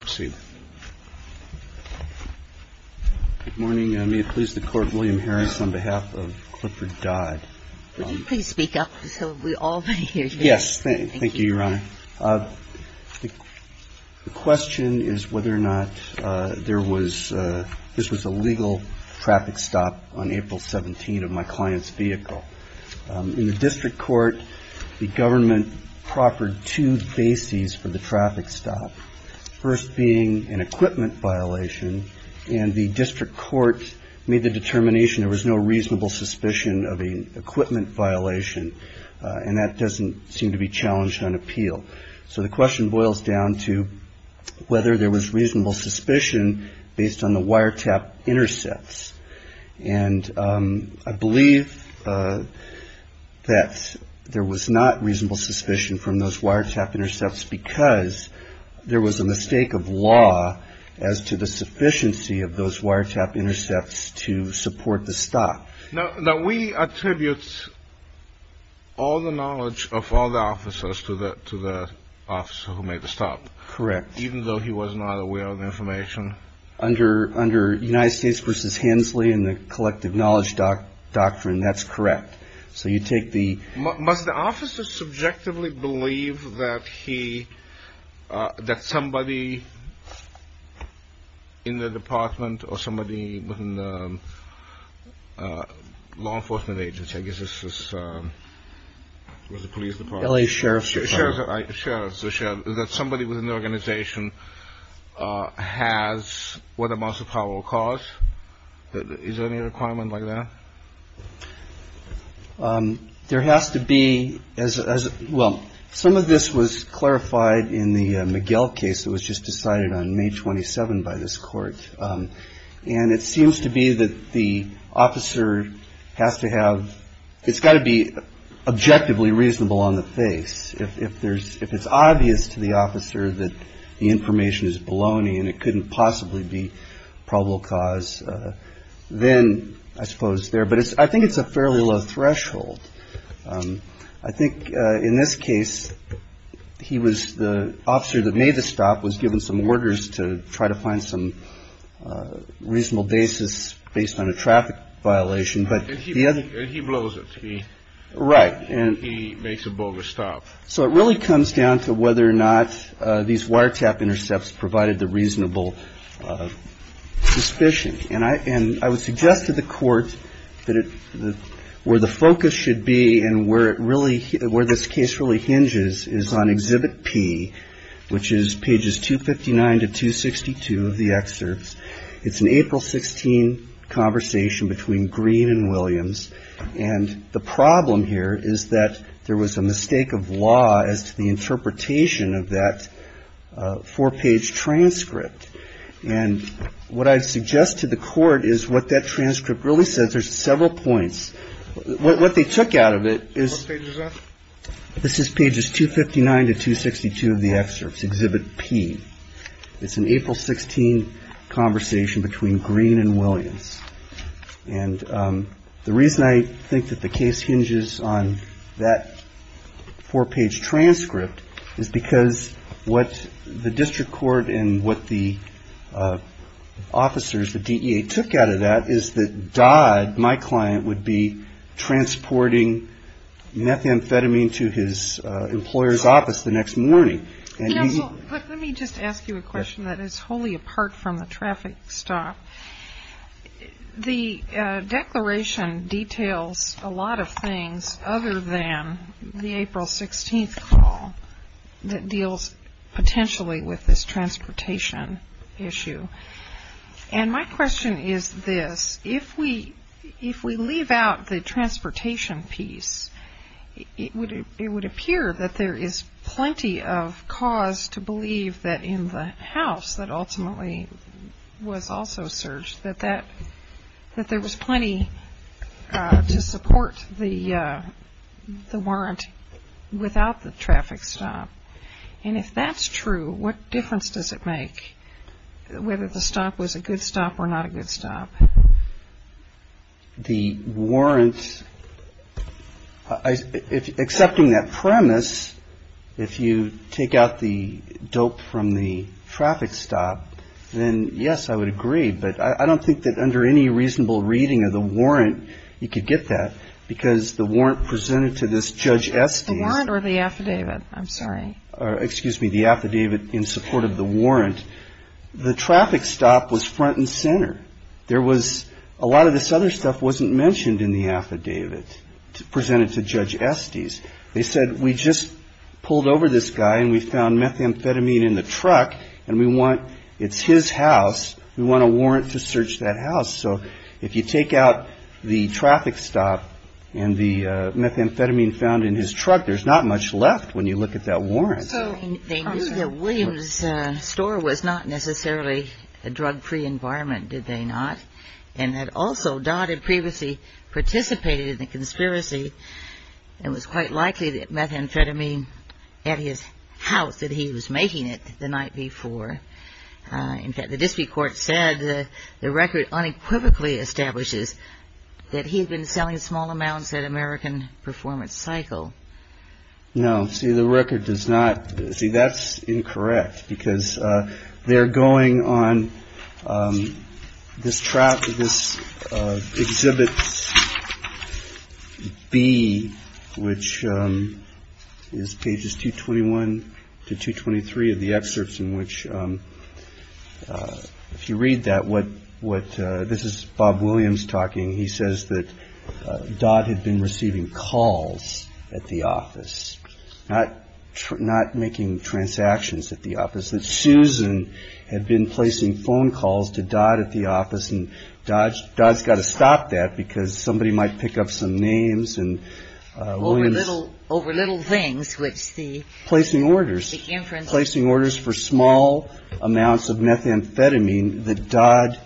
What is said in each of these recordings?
Good morning. May it please the Court, William Harris, on behalf of Clifford Dodd. Would you please speak up so we all may hear you? Yes. Thank you, Your Honor. The question is whether or not there was – this was a legal traffic stop on April 17 of my client's vehicle. In the district court, the government proffered two bases for the traffic stop. First being an equipment violation. And the district court made the determination there was no reasonable suspicion of an equipment violation. And that doesn't seem to be challenged on appeal. So the question boils down to whether there was reasonable suspicion based on the wiretap intercepts. And I believe that there was not reasonable suspicion from those wiretap intercepts because there was a mistake of law as to the sufficiency of those wiretap intercepts to support the stop. Now, we attribute all the knowledge of all the officers to the officer who made the stop. Correct. Even though he was not aware of the information. Under United States v. Hensley and the collective knowledge doctrine, that's correct. So you take the – Must the officer subjectively believe that he – that somebody in the department or somebody within the law enforcement agency – I guess this was the police department. L.A. Sheriff's Department. Sheriff's Department. Sheriff's Department. That somebody within the organization has what amounts of power or cause. Is there any requirement like that? There has to be as well. Some of this was clarified in the Miguel case that was just decided on May 27 by this court. And it seems to be that the officer has to have – it's got to be objectively reasonable on the face. If there's – if it's obvious to the officer that the information is baloney and it couldn't possibly be probable cause, then I suppose there – but I think it's a fairly low threshold. I think in this case, he was – the officer that made the stop was given some orders to try to find some reasonable basis based on a traffic violation. But the other – And he blows it. He – Right. He makes a bogus stop. So it really comes down to whether or not these wiretap intercepts provided the reasonable suspicion. And I would suggest to the court that it – where the focus should be and where it really – where this case really hinges is on Exhibit P, which is pages 259 to 262 of the excerpts. It's an April 16 conversation between Green and Williams. And the problem here is that there was a mistake of law as to the interpretation of that four-page transcript. And what I suggest to the court is what that transcript really says. There's several points. What they took out of it is – What page is that? This is pages 259 to 262 of the excerpts, Exhibit P. It's an April 16 conversation between Green and Williams. And the reason I think that the case hinges on that four-page transcript is because what the district court and what the officers, the DEA, took out of that is that Dodd, my client, would be transporting methamphetamine to his employer's office the next morning. Let me just ask you a question that is wholly apart from the traffic stop. The declaration details a lot of things other than the April 16 call that deals potentially with this transportation issue. And my question is this. If we leave out the transportation piece, it would appear that there is plenty of cause to believe that in the house that ultimately was also searched, that there was plenty to support the warrant without the traffic stop. And if that's true, what difference does it make whether the stop was a good stop or not a good stop? The warrant – accepting that premise, if you take out the dope from the traffic stop, then yes, I would agree. But I don't think that under any reasonable reading of the warrant you could get that because the warrant presented to this Judge Estes – The warrant or the affidavit? I'm sorry. Excuse me. The affidavit in support of the warrant. The traffic stop was front and center. There was – a lot of this other stuff wasn't mentioned in the affidavit presented to Judge Estes. They said we just pulled over this guy and we found methamphetamine in the truck and we want – it's his house. We want a warrant to search that house. So if you take out the traffic stop and the methamphetamine found in his truck, there's not much left when you look at that warrant. So they knew that Williams' store was not necessarily a drug-free environment, did they not? And that also Dodd had previously participated in the conspiracy and was quite likely that methamphetamine at his house that he was making it the night before. In fact, the district court said the record unequivocally establishes that he had been selling small amounts that American performance cycle. No. See, the record does not – see, that's incorrect because they're going on this trap, Exhibit B, which is pages 221 to 223 of the excerpts in which, if you read that, what – this is Bob Williams talking. He says that Dodd had been receiving calls at the office, not making transactions at the office, that Susan had been placing phone calls to Dodd at the office. And Dodd's got to stop that because somebody might pick up some names and – Over little things, which the – Placing orders. The inference – Placing orders for small amounts of methamphetamine that Dodd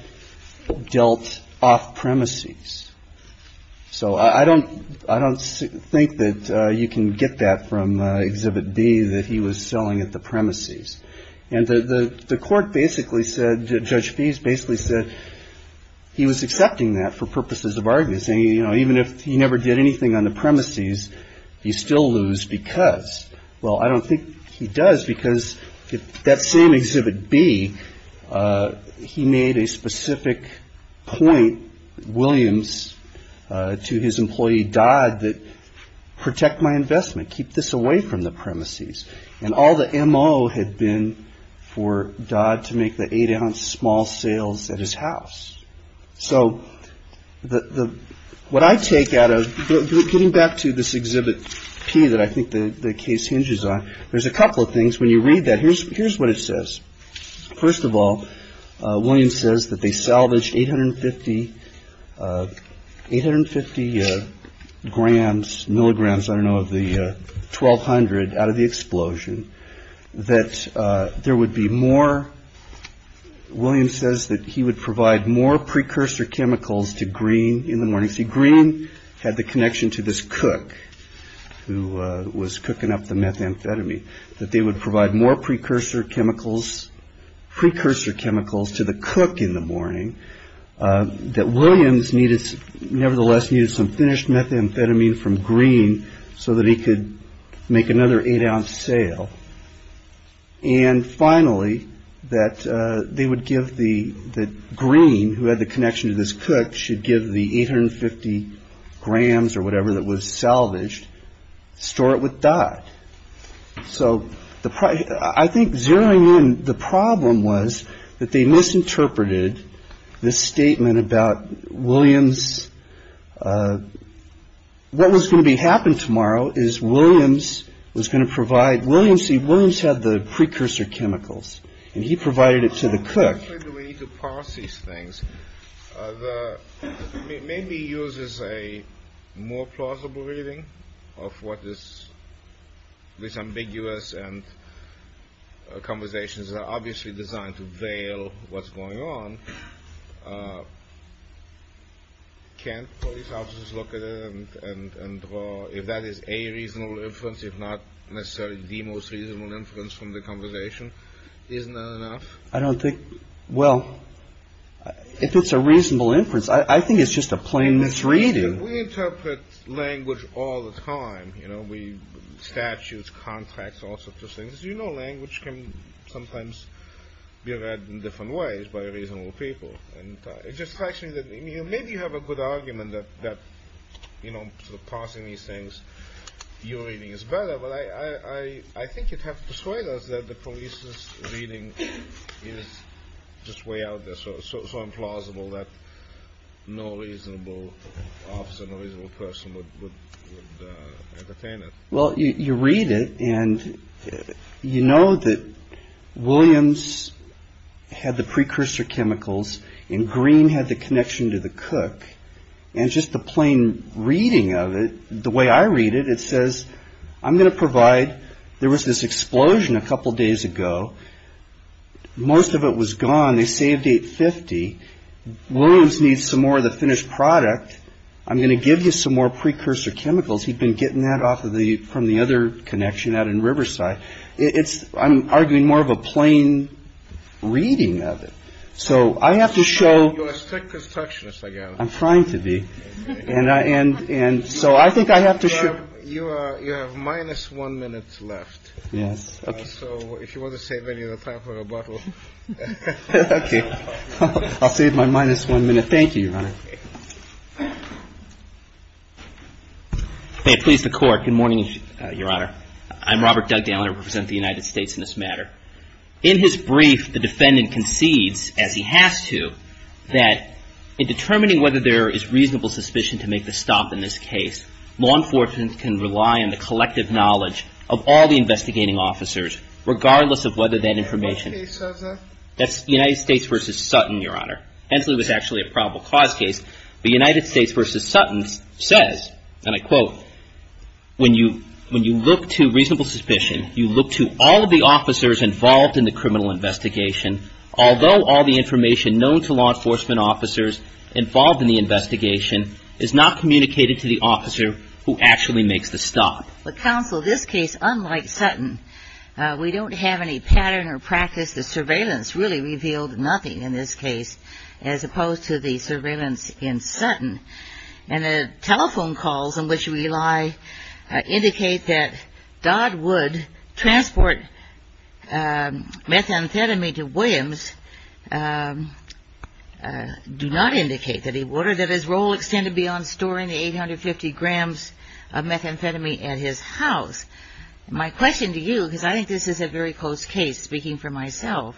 dealt off premises. So I don't – I don't think that you can get that from Exhibit B, that he was selling at the premises. And the court basically said – Judge Fease basically said he was accepting that for purposes of argument, saying, you know, even if he never did anything on the premises, he'd still lose because. Well, I don't think he does because that same Exhibit B, he made a specific point, Williams, to his employee Dodd, that protect my investment, keep this away from the premises. And all the MO had been for Dodd to make the eight-ounce small sales at his house. So the – what I take out of – getting back to this Exhibit P that I think the case hinges on, there's a couple of things when you read that. Here's – here's what it says. First of all, Williams says that they salvaged 850 – 850 grams, milligrams, I don't know, of the 1,200 out of the explosion, that there would be more – Williams says that he would provide more precursor chemicals to Green in the morning. See, Green had the connection to this cook who was cooking up the methamphetamine, that they would provide more precursor chemicals – precursor chemicals to the cook in the morning, that Williams needed – nevertheless needed some finished methamphetamine from Green so that he could make another eight-ounce sale. And finally, that they would give the – that Green, who had the connection to this cook, should give the 850 grams or whatever that was salvaged, store it with Dodd. So the – I think zeroing in, the problem was that they misinterpreted this statement about Williams. What was going to happen tomorrow is Williams was going to provide – Williams – see, Williams had the precursor chemicals and he provided it to the cook. Why actually do we need to parse these things? The – maybe he uses a more plausible reading of what is – this ambiguous and conversations that are obviously designed to veil what's going on. Can't police officers look at it and draw – if that is a reasonable inference, if not necessarily the most reasonable inference from the conversation, isn't that enough? I don't think – well, if it's a reasonable inference, I think it's just a plain misreading. We interpret language all the time. You know, we – statutes, contracts, all sorts of things. You know language can sometimes be read in different ways by reasonable people. And it just strikes me that maybe you have a good argument that, you know, parsing these things, your reading is better. I think you'd have to persuade us that the police's reading is just way out there, so implausible that no reasonable officer, no reasonable person would entertain it. Well, you read it and you know that Williams had the precursor chemicals and Green had the connection to the cook. And just the plain reading of it, the way I read it, it says I'm going to provide – there was this explosion a couple days ago. Most of it was gone. They saved 850. Williams needs some more of the finished product. I'm going to give you some more precursor chemicals. He'd been getting that off of the – from the other connection out in Riverside. It's – I'm arguing more of a plain reading of it. So I have to show – You're a strict constructionist, I gather. I'm trying to be. And so I think I have to show – You have minus one minute left. Yes. So if you want to save any of the time for rebuttal. Okay. I'll save my minus one minute. Thank you, Your Honor. May it please the Court. Good morning, Your Honor. I'm Robert Dugdale and I represent the United States in this matter. In his brief, the defendant concedes, as he has to, that in determining whether there is reasonable suspicion to make the stop in this case, law enforcement can rely on the collective knowledge of all the investigating officers, regardless of whether that information – What case was that? That's United States v. Sutton, Your Honor. Hensley was actually a probable cause case. But United States v. Sutton says, and I quote, When you look to reasonable suspicion, you look to all of the officers involved in the criminal investigation, although all the information known to law enforcement officers involved in the investigation is not communicated to the officer who actually makes the stop. But counsel, this case, unlike Sutton, we don't have any pattern or practice. The surveillance really revealed nothing in this case, as opposed to the surveillance in Sutton. And the telephone calls in which we lie indicate that Dodd would transport methamphetamine to Williams, do not indicate that he would, or that his role extended beyond storing the 850 grams of methamphetamine at his house. My question to you, because I think this is a very close case, speaking for myself,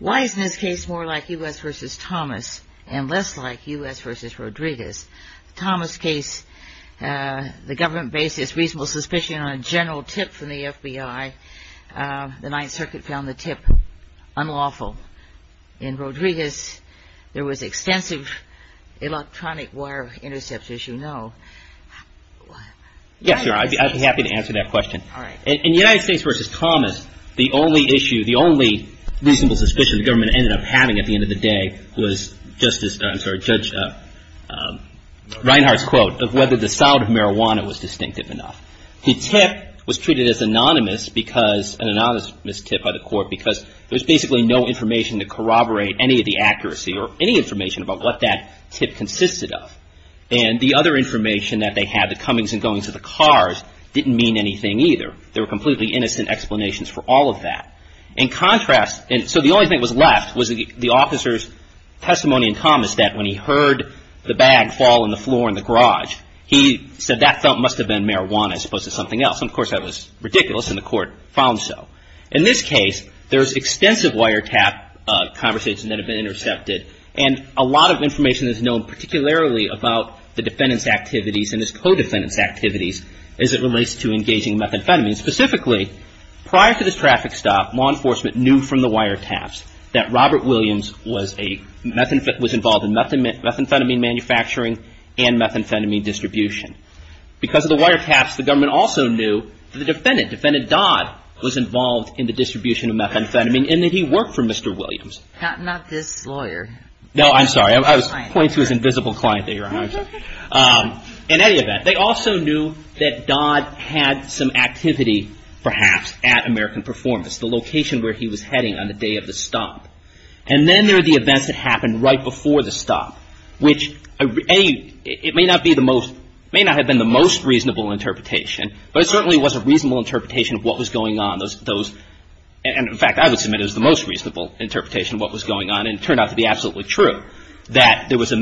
why is this case more like U.S. v. Thomas and less like U.S. v. Rodriguez? Thomas' case, the government based its reasonable suspicion on a general tip from the FBI. The Ninth Circuit found the tip unlawful. In Rodriguez, there was extensive electronic wire intercept, as you know. Yes, Your Honor, I'd be happy to answer that question. In United States v. Thomas, the only issue, the only reasonable suspicion the government ended up having at the end of the day was Justice, I'm sorry, Judge Reinhardt's quote of whether the sound of marijuana was distinctive enough. The tip was treated as anonymous because, an anonymous tip by the court, because there's basically no information to corroborate any of the accuracy or any information about what that tip consisted of. And the other information that they had, the comings and goings of the cars, didn't mean anything either. There were completely innocent explanations for all of that. In contrast, so the only thing that was left was the officer's testimony in Thomas that when he heard the bag fall on the floor in the garage, he said that must have been marijuana as opposed to something else. And of course that was ridiculous and the court found so. In this case, there's extensive wiretap conversation that had been intercepted and a lot of information that's known particularly about the defendant's activities and his co-defendant's activities as it relates to engaging methamphetamine. Specifically, prior to this traffic stop, law enforcement knew from the wiretaps that Robert Williams was a, was involved in methamphetamine manufacturing and methamphetamine distribution. Because of the wiretaps, the government also knew that the defendant, defendant Dodd, was involved in the distribution of methamphetamine and that he worked for Mr. Williams. Not this lawyer. No, I'm sorry. I was pointing to his invisible client there. In any event, they also knew that Dodd had some activity perhaps at American Performance, the location where he was heading on the day of the stop. And then there are the events that happened right before the stop, which it may not be the most, may not have been the most reasonable interpretation, but it certainly was a reasonable interpretation of what was going on. In fact, I would submit it was the most reasonable interpretation of what was going on and it turned out to be absolutely true. That there was an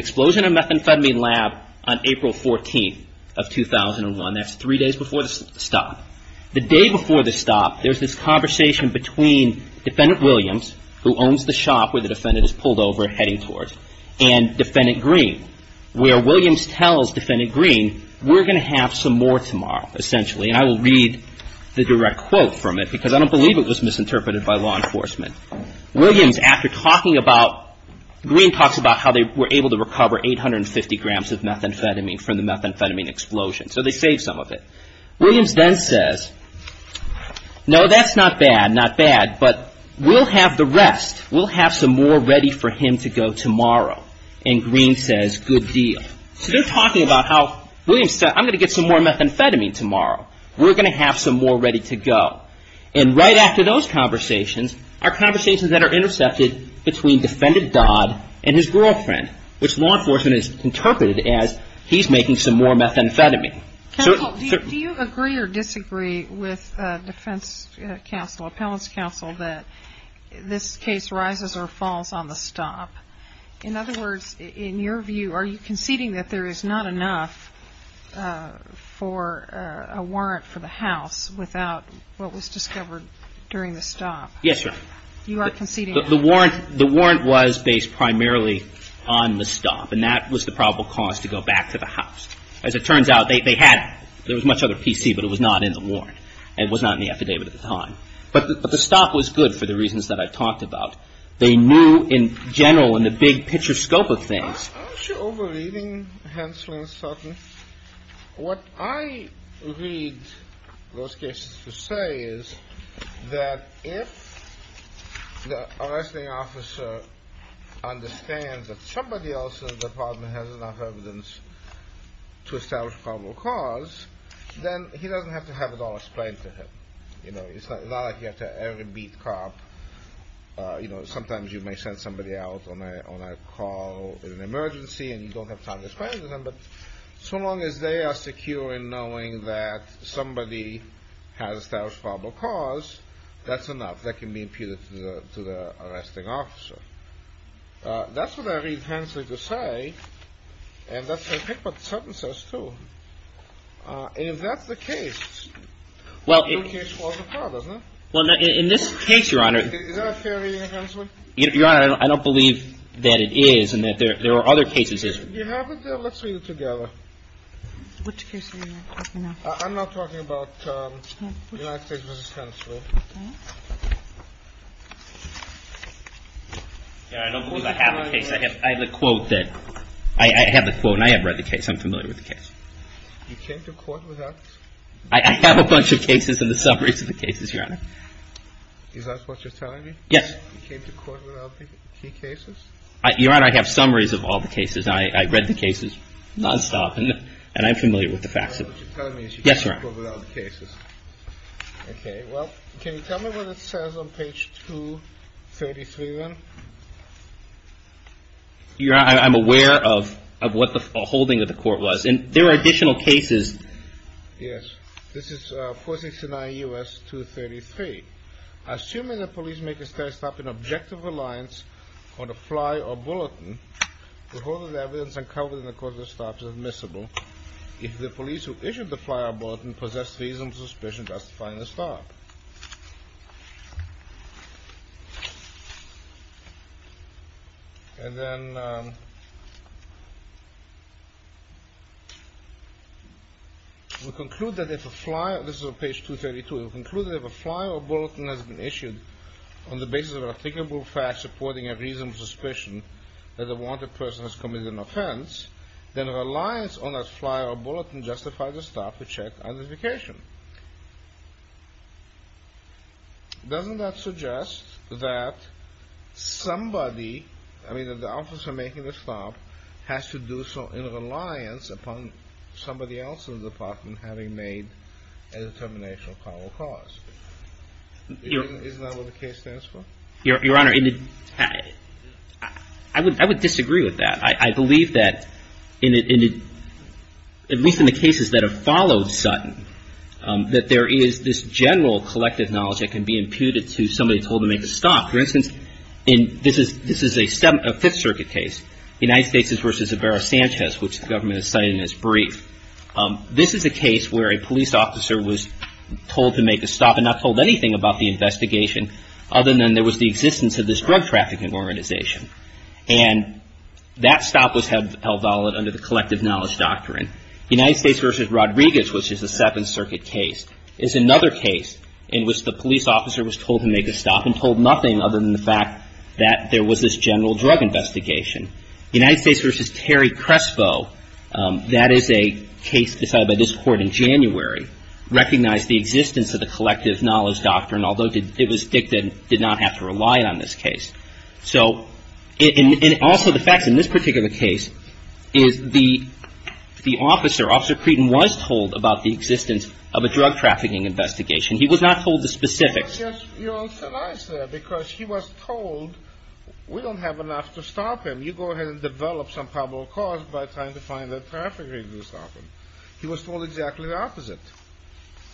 explosion in a methamphetamine lab on April 14th of 2001. That's three days before the stop. The day before the stop, there's this conversation between Defendant Williams, who owns the shop where the defendant is pulled over and heading towards, and Defendant Green, where Williams tells Defendant Green, we're going to have some more tomorrow, essentially, and I will read the direct quote from it because I don't believe it was misinterpreted by law enforcement. Williams, after talking about, Green talks about how they were able to recover 850 grams of methamphetamine from the methamphetamine explosion, so they saved some of it. Williams then says, no, that's not bad, not bad, but we'll have the rest. We'll have some more ready for him to go tomorrow. And Green says, good deal. So they're talking about how Williams said, I'm going to get some more methamphetamine tomorrow. We're going to have some more ready to go. And right after those conversations are conversations that are intercepted between Defendant Dodd and his girlfriend, which law enforcement has interpreted as he's making some more methamphetamine. Do you agree or disagree with defense counsel, appellant's counsel, that this case rises or falls on the stop? In other words, in your view, are you conceding that there is not enough for a warrant for the house without what was discovered during the stop? Yes, sir. You are conceding. The warrant was based primarily on the stop, and that was the probable cause to go back to the house. As it turns out, they had it. There was much other PC, but it was not in the warrant. It was not in the affidavit at the time. But the stop was good for the reasons that I talked about. They knew, in general, in the big picture scope of things. Aren't you over-reading Hensley and Sutton? What I read those cases to say is that if the arresting officer understands that somebody else in the department has enough evidence to establish probable cause, then he doesn't have to have it all explained to him. It's not like you have to every beat cop. Sometimes you may send somebody out on a call in an emergency, and you don't have time to explain it to them. But so long as they are secure in knowing that somebody has established probable cause, that's enough. That can be imputed to the arresting officer. That's what I read Hensley to say, and that's what Sutton says, too. And if that's the case, then your case falls apart, doesn't it? Well, in this case, Your Honor. Is that a fair reading of Hensley? Your Honor, I don't believe that it is and that there are other cases. You have it there? Let's read it together. Which case are you talking about? I'm not talking about United States v. Kennedy School. Okay. Yeah, I don't believe I have the case. I have the quote that – I have the quote, and I have read the case. I'm familiar with the case. You came to court with that? I have a bunch of cases and the summaries of the cases, Your Honor. Is that what you're telling me? Yes. You came to court without the key cases? Your Honor, I have summaries of all the cases. I read the cases nonstop, and I'm familiar with the facts. What you're telling me is you came to court without the cases. Yes, Your Honor. Okay. Well, can you tell me what it says on page 233, then? Your Honor, I'm aware of what the holding of the court was. And there are additional cases. Yes. This is 469 U.S. 233. Assuming the police make a steady stop in objective reliance on a fly or bulletin, the hold of the evidence uncovered in the court of the stop is admissible if the police who issued the fly or bulletin possess reasonable suspicion justifying the stop. And then we conclude that if a fly – this is on page 232 – we conclude that if a fly or bulletin has been issued on the basis of an afficable fact supporting a reasonable suspicion that a wanted person has committed an offense, then reliance on that fly or bulletin justifies the stop to check identification. Doesn't that suggest that somebody – I mean, that the officer making the stop has to do so in reliance upon somebody else in the department having made a determination of criminal cause? Isn't that what the case stands for? Your Honor, I would disagree with that. I believe that, at least in the cases that have followed Sutton, that there is this general collective knowledge that can be imputed to somebody told to make a stop. For instance, this is a Fifth Circuit case, the United States v. Ibarra-Sanchez, which the government has cited in its brief. This is a case where a police officer was told to make a stop and not told anything about the investigation other than there was the existence of this drug trafficking organization. And that stop was held valid under the collective knowledge doctrine. The United States v. Rodriguez, which is a Seventh Circuit case, is another case in which the police officer was told to make a stop and told nothing other than the fact that there was this general drug investigation. The United States v. Terry Crespo, that is a case decided by this Court in January, recognized the existence of the collective knowledge doctrine, although it was dictated it did not have to rely on this case. So, and also the fact in this particular case is the officer, Officer Creighton, was told about the existence of a drug trafficking investigation. He was not told the specifics. You're also nice there because he was told we don't have enough to stop him. You go ahead and develop some probable cause by trying to find a trafficker to stop him. He was told exactly the opposite.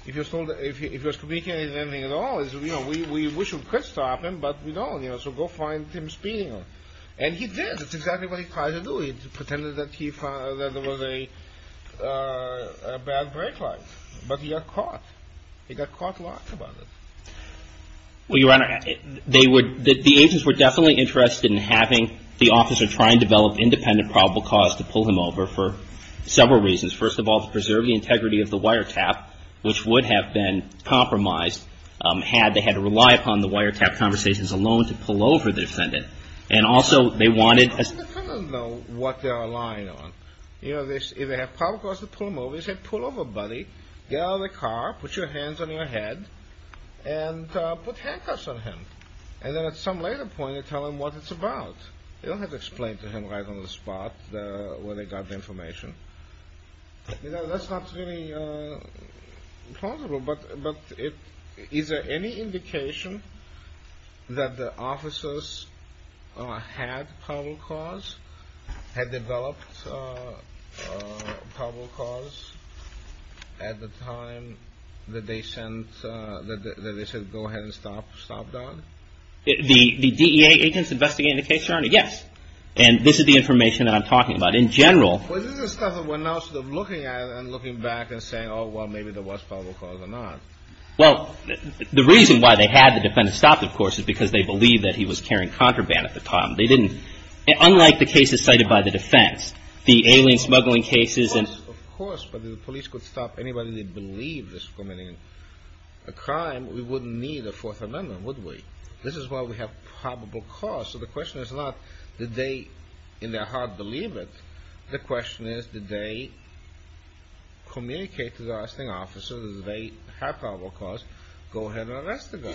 If he was told, if he was communicating anything at all, we wish we could stop him, but we don't. So go find Tim Spiegel. And he did. That's exactly what he tried to do. He pretended that he found that there was a bad brake light, but he got caught. He got caught lots about it. Well, Your Honor, they would, the agents were definitely interested in having the officer try and develop independent probable cause to pull him over for several reasons. First of all, to preserve the integrity of the wiretap, which would have been compromised had they had to rely upon the wiretap conversations alone to pull over the defendant. And also they wanted a The defendant doesn't know what they're relying on. You know, if they have probable cause to pull him over, they say, pull over, buddy, get out of the car, put your hands on your head, and put handcuffs on him. And then at some later point, they tell him what it's about. They don't have to explain to him right on the spot where they got the information. That's not really plausible. But is there any indication that the officers had probable cause, had developed probable cause at the time that they sent, that they said go ahead and stop Don? The DEA agents investigating the case, Your Honor, yes. And this is the information that I'm talking about. But in general Well, this is the stuff that we're now sort of looking at and looking back and saying, oh, well, maybe there was probable cause or not. Well, the reason why they had the defendant stopped, of course, is because they believed that he was carrying contraband at the time. They didn't. Unlike the cases cited by the defense, the alien smuggling cases and Of course, but if the police could stop anybody that believed this was committing a crime, we wouldn't need a Fourth Amendment, would we? This is why we have probable cause. So the question is not, did they in their heart believe it? The question is, did they communicate to the arresting officer that they had probable cause, go ahead and arrest the guy?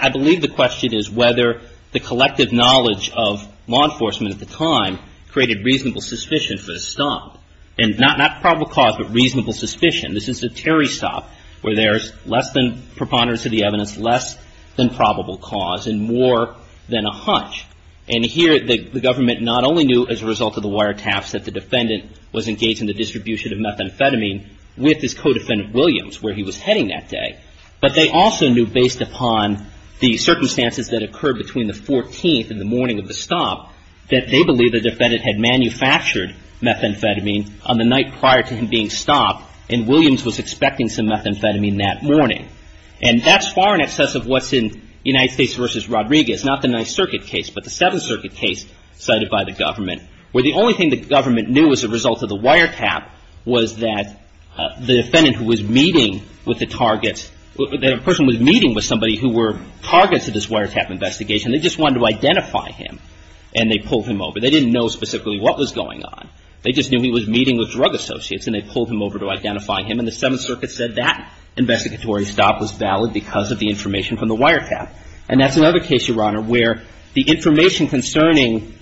I believe the question is whether the collective knowledge of law enforcement at the time created reasonable suspicion for the stop. And not probable cause, but reasonable suspicion. This is a Terry stop where there's less than preponderance of the evidence, less than probable cause and more than a hunch. And here the government not only knew as a result of the wiretaps that the defendant was engaged in the distribution of methamphetamine with his co-defendant Williams where he was heading that day, but they also knew based upon the circumstances that occurred between the 14th and the morning of the stop that they believed the defendant had manufactured methamphetamine on the night prior to him being stopped and Williams was expecting some methamphetamine that morning. And that's far in excess of what's in United States v. Rodriguez. Not the Ninth Circuit case, but the Seventh Circuit case cited by the government where the only thing the government knew as a result of the wiretap was that the defendant who was meeting with the target, that a person was meeting with somebody who were targets of this wiretap investigation, they just wanted to identify him and they pulled him over. They didn't know specifically what was going on. They just knew he was meeting with drug associates and they pulled him over to identify him and the Seventh Circuit said that investigatory stop was valid because of the information from the wiretap. And that's another case, Your Honor, where the information concerning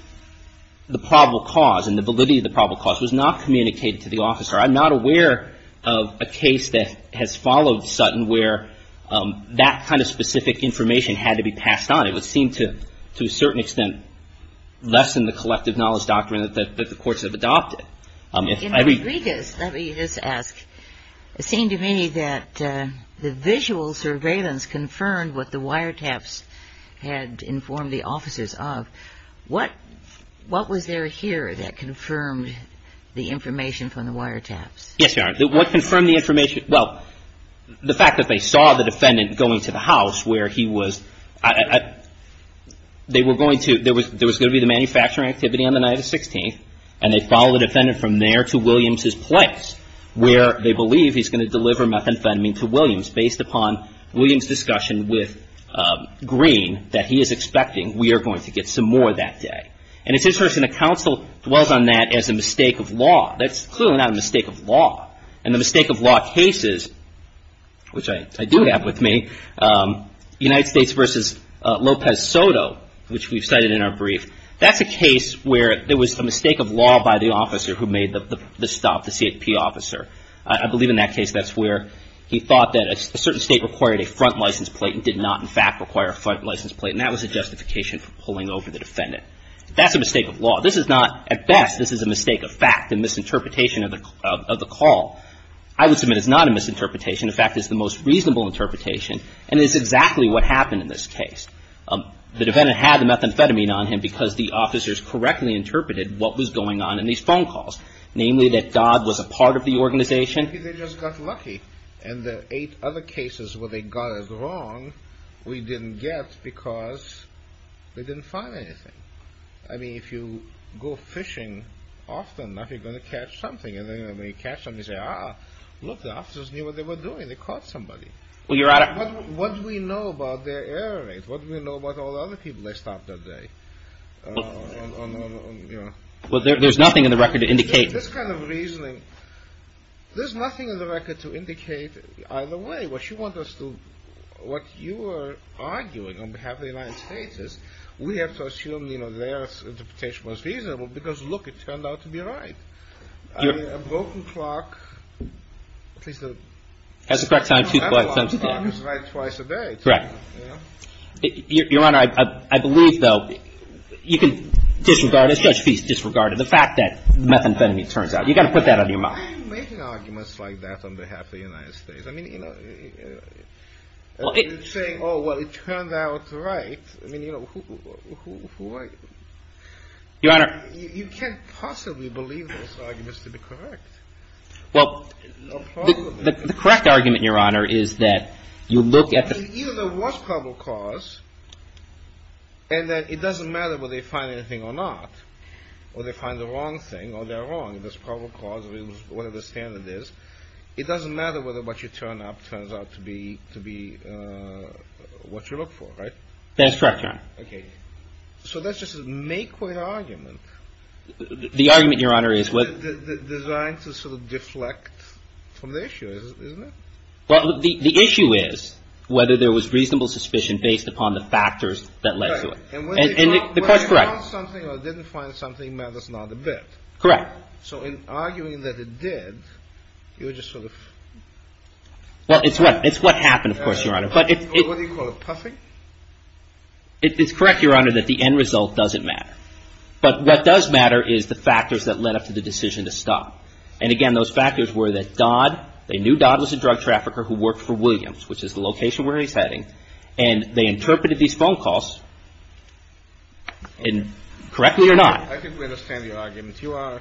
the probable cause and the validity of the probable cause was not communicated to the officer. I'm not aware of a case that has followed Sutton where that kind of specific information had to be passed on. It would seem to a certain extent less than the collective knowledge doctrine that the courts have adopted. In Rodriguez, let me just ask. It seemed to me that the visual surveillance confirmed what the wiretaps had informed the officers of. What was there here that confirmed the information from the wiretaps? Yes, Your Honor. What confirmed the information? Well, the fact that they saw the defendant going to the house where he was, they were going to, there was going to be the manufacturing activity on the night of the 16th and they followed the defendant from there to Williams' place, where they believe he's going to deliver methamphetamine to Williams based upon Williams' discussion with Green that he is expecting we are going to get some more that day. And it's interesting, the counsel dwells on that as a mistake of law. That's clearly not a mistake of law. In the mistake of law cases, which I do have with me, United States v. Lopez Soto, which we've cited in our brief, that's a case where there was a mistake of law by the officer who made the stop, the CFP officer. I believe in that case that's where he thought that a certain state required a front license plate and did not in fact require a front license plate, and that was a justification for pulling over the defendant. That's a mistake of law. This is not, at best, this is a mistake of fact, a misinterpretation of the call. I would submit it's not a misinterpretation. In fact, it's the most reasonable interpretation, and it's exactly what happened in this case. The defendant had the methamphetamine on him because the officers correctly interpreted what was going on in these phone calls, namely that Dodd was a part of the organization. Maybe they just got lucky, and the eight other cases where they got it wrong, we didn't get because they didn't find anything. I mean, if you go fishing often enough, you're going to catch something, and then when you catch something, you say, ah, look, the officers knew what they were doing. They caught somebody. What do we know about their error rate? What do we know about all the other people they stopped that day? Well, there's nothing in the record to indicate. This kind of reasoning, there's nothing in the record to indicate either way. What you are arguing on behalf of the United States is we have to assume their interpretation was reasonable because, look, it turned out to be right. I mean, a broken clock, at least a broken clock is right twice a day. Correct. Your Honor, I believe, though, you can disregard it. Judge Feist disregarded the fact that methamphetamine turns out. You've got to put that on your mind. Why are you making arguments like that on behalf of the United States? I mean, you know, you're saying, oh, well, it turned out right. I mean, you know, who are you? Your Honor. You can't possibly believe those arguments to be correct. Well, the correct argument, Your Honor, is that you look at the... Either there was probable cause and that it doesn't matter whether they find anything or not or they find the wrong thing or they're wrong. There's probable cause, whatever the standard is. It doesn't matter whether what you turn up turns out to be what you look for, right? That is correct, Your Honor. Okay. So that's just a make-quit argument. The argument, Your Honor, is... Designed to sort of deflect from the issue, isn't it? Well, the issue is whether there was reasonable suspicion based upon the factors that led to it. Right. And when they found something or didn't find something matters not a bit. Correct. So in arguing that it did, you were just sort of... Well, it's what happened, of course, Your Honor. What do you call it, puffing? It's correct, Your Honor, that the end result doesn't matter. But what does matter is the factors that led up to the decision to stop. And again, those factors were that Dodd... They knew Dodd was a drug trafficker who worked for Williams, which is the location where he's heading. And they interpreted these phone calls... Correct me or not. I think we understand your argument. You are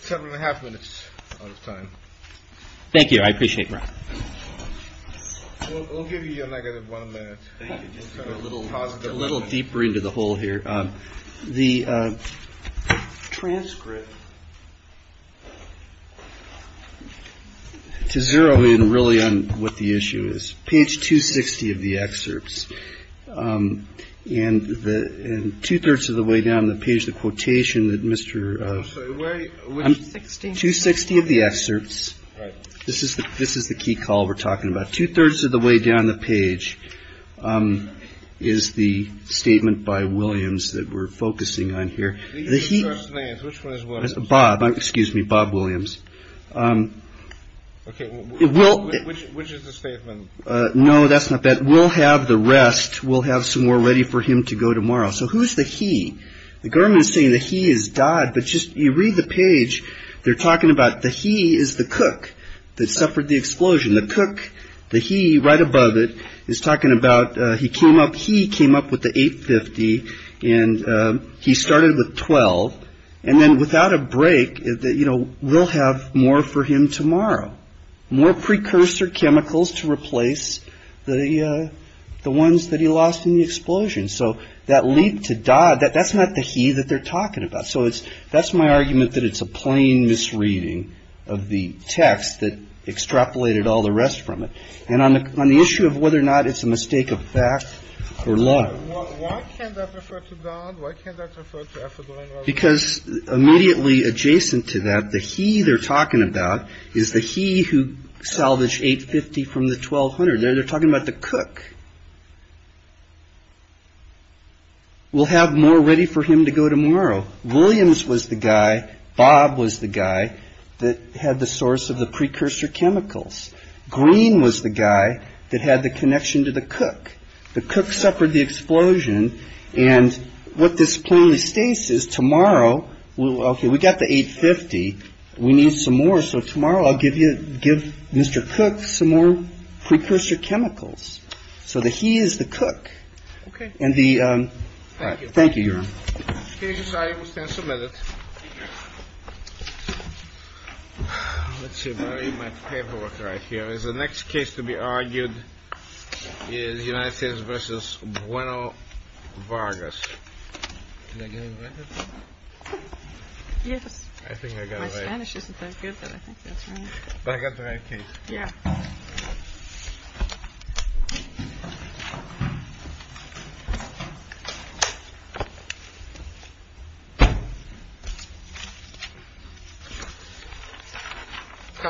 several and a half minutes out of time. Thank you. I appreciate that. We'll give you your negative one minute. Thank you. Just a little positive. A little deeper into the hole here. The transcript to zero in really on what the issue is. Page 260 of the excerpts. And two-thirds of the way down the page, the quotation that Mr.... I'm sorry. Where is it? 260 of the excerpts. Right. This is the key call we're talking about. Two-thirds of the way down the page is the statement by Williams that we're focusing on here. These are the first names. Which one is Williams? Bob. Excuse me. Bob Williams. Okay. Which is the statement? No, that's not that. We'll have the rest. We'll have some more ready for him to go tomorrow. So who's the he? The government is saying the he is Dodd. But just you read the page, they're talking about the he is the cook that suffered the explosion. The cook, the he right above it is talking about he came up with the 850 and he started with 12. And then without a break, we'll have more for him tomorrow. More precursor chemicals to replace the ones that he lost in the explosion. So that lead to Dodd, that's not the he that they're talking about. So that's my argument that it's a plain misreading of the text that extrapolated all the rest from it. And on the issue of whether or not it's a mistake of fact or law. Why can't that refer to Dodd? Why can't that refer to F.A. Because immediately adjacent to that, the he they're talking about is the he who salvaged 850 from the 1200. They're talking about the cook. We'll have more ready for him to go tomorrow. Williams was the guy. Bob was the guy that had the source of the precursor chemicals. Green was the guy that had the connection to the cook. The cook suffered the explosion. And what this plainly states is tomorrow, OK, we got the 850. We need some more. So tomorrow I'll give you give Mr. Cook some more precursor chemicals. So the he is the cook. OK. And the. Thank you. Thank you. I will stand submitted to my paperwork right here is the next case to be argued in the United States versus one of Vargas. Negative. Yes, I think I got my Spanish isn't that good. But I think that's right. Yeah. And. And. 会议会议会会议会会会议会会会期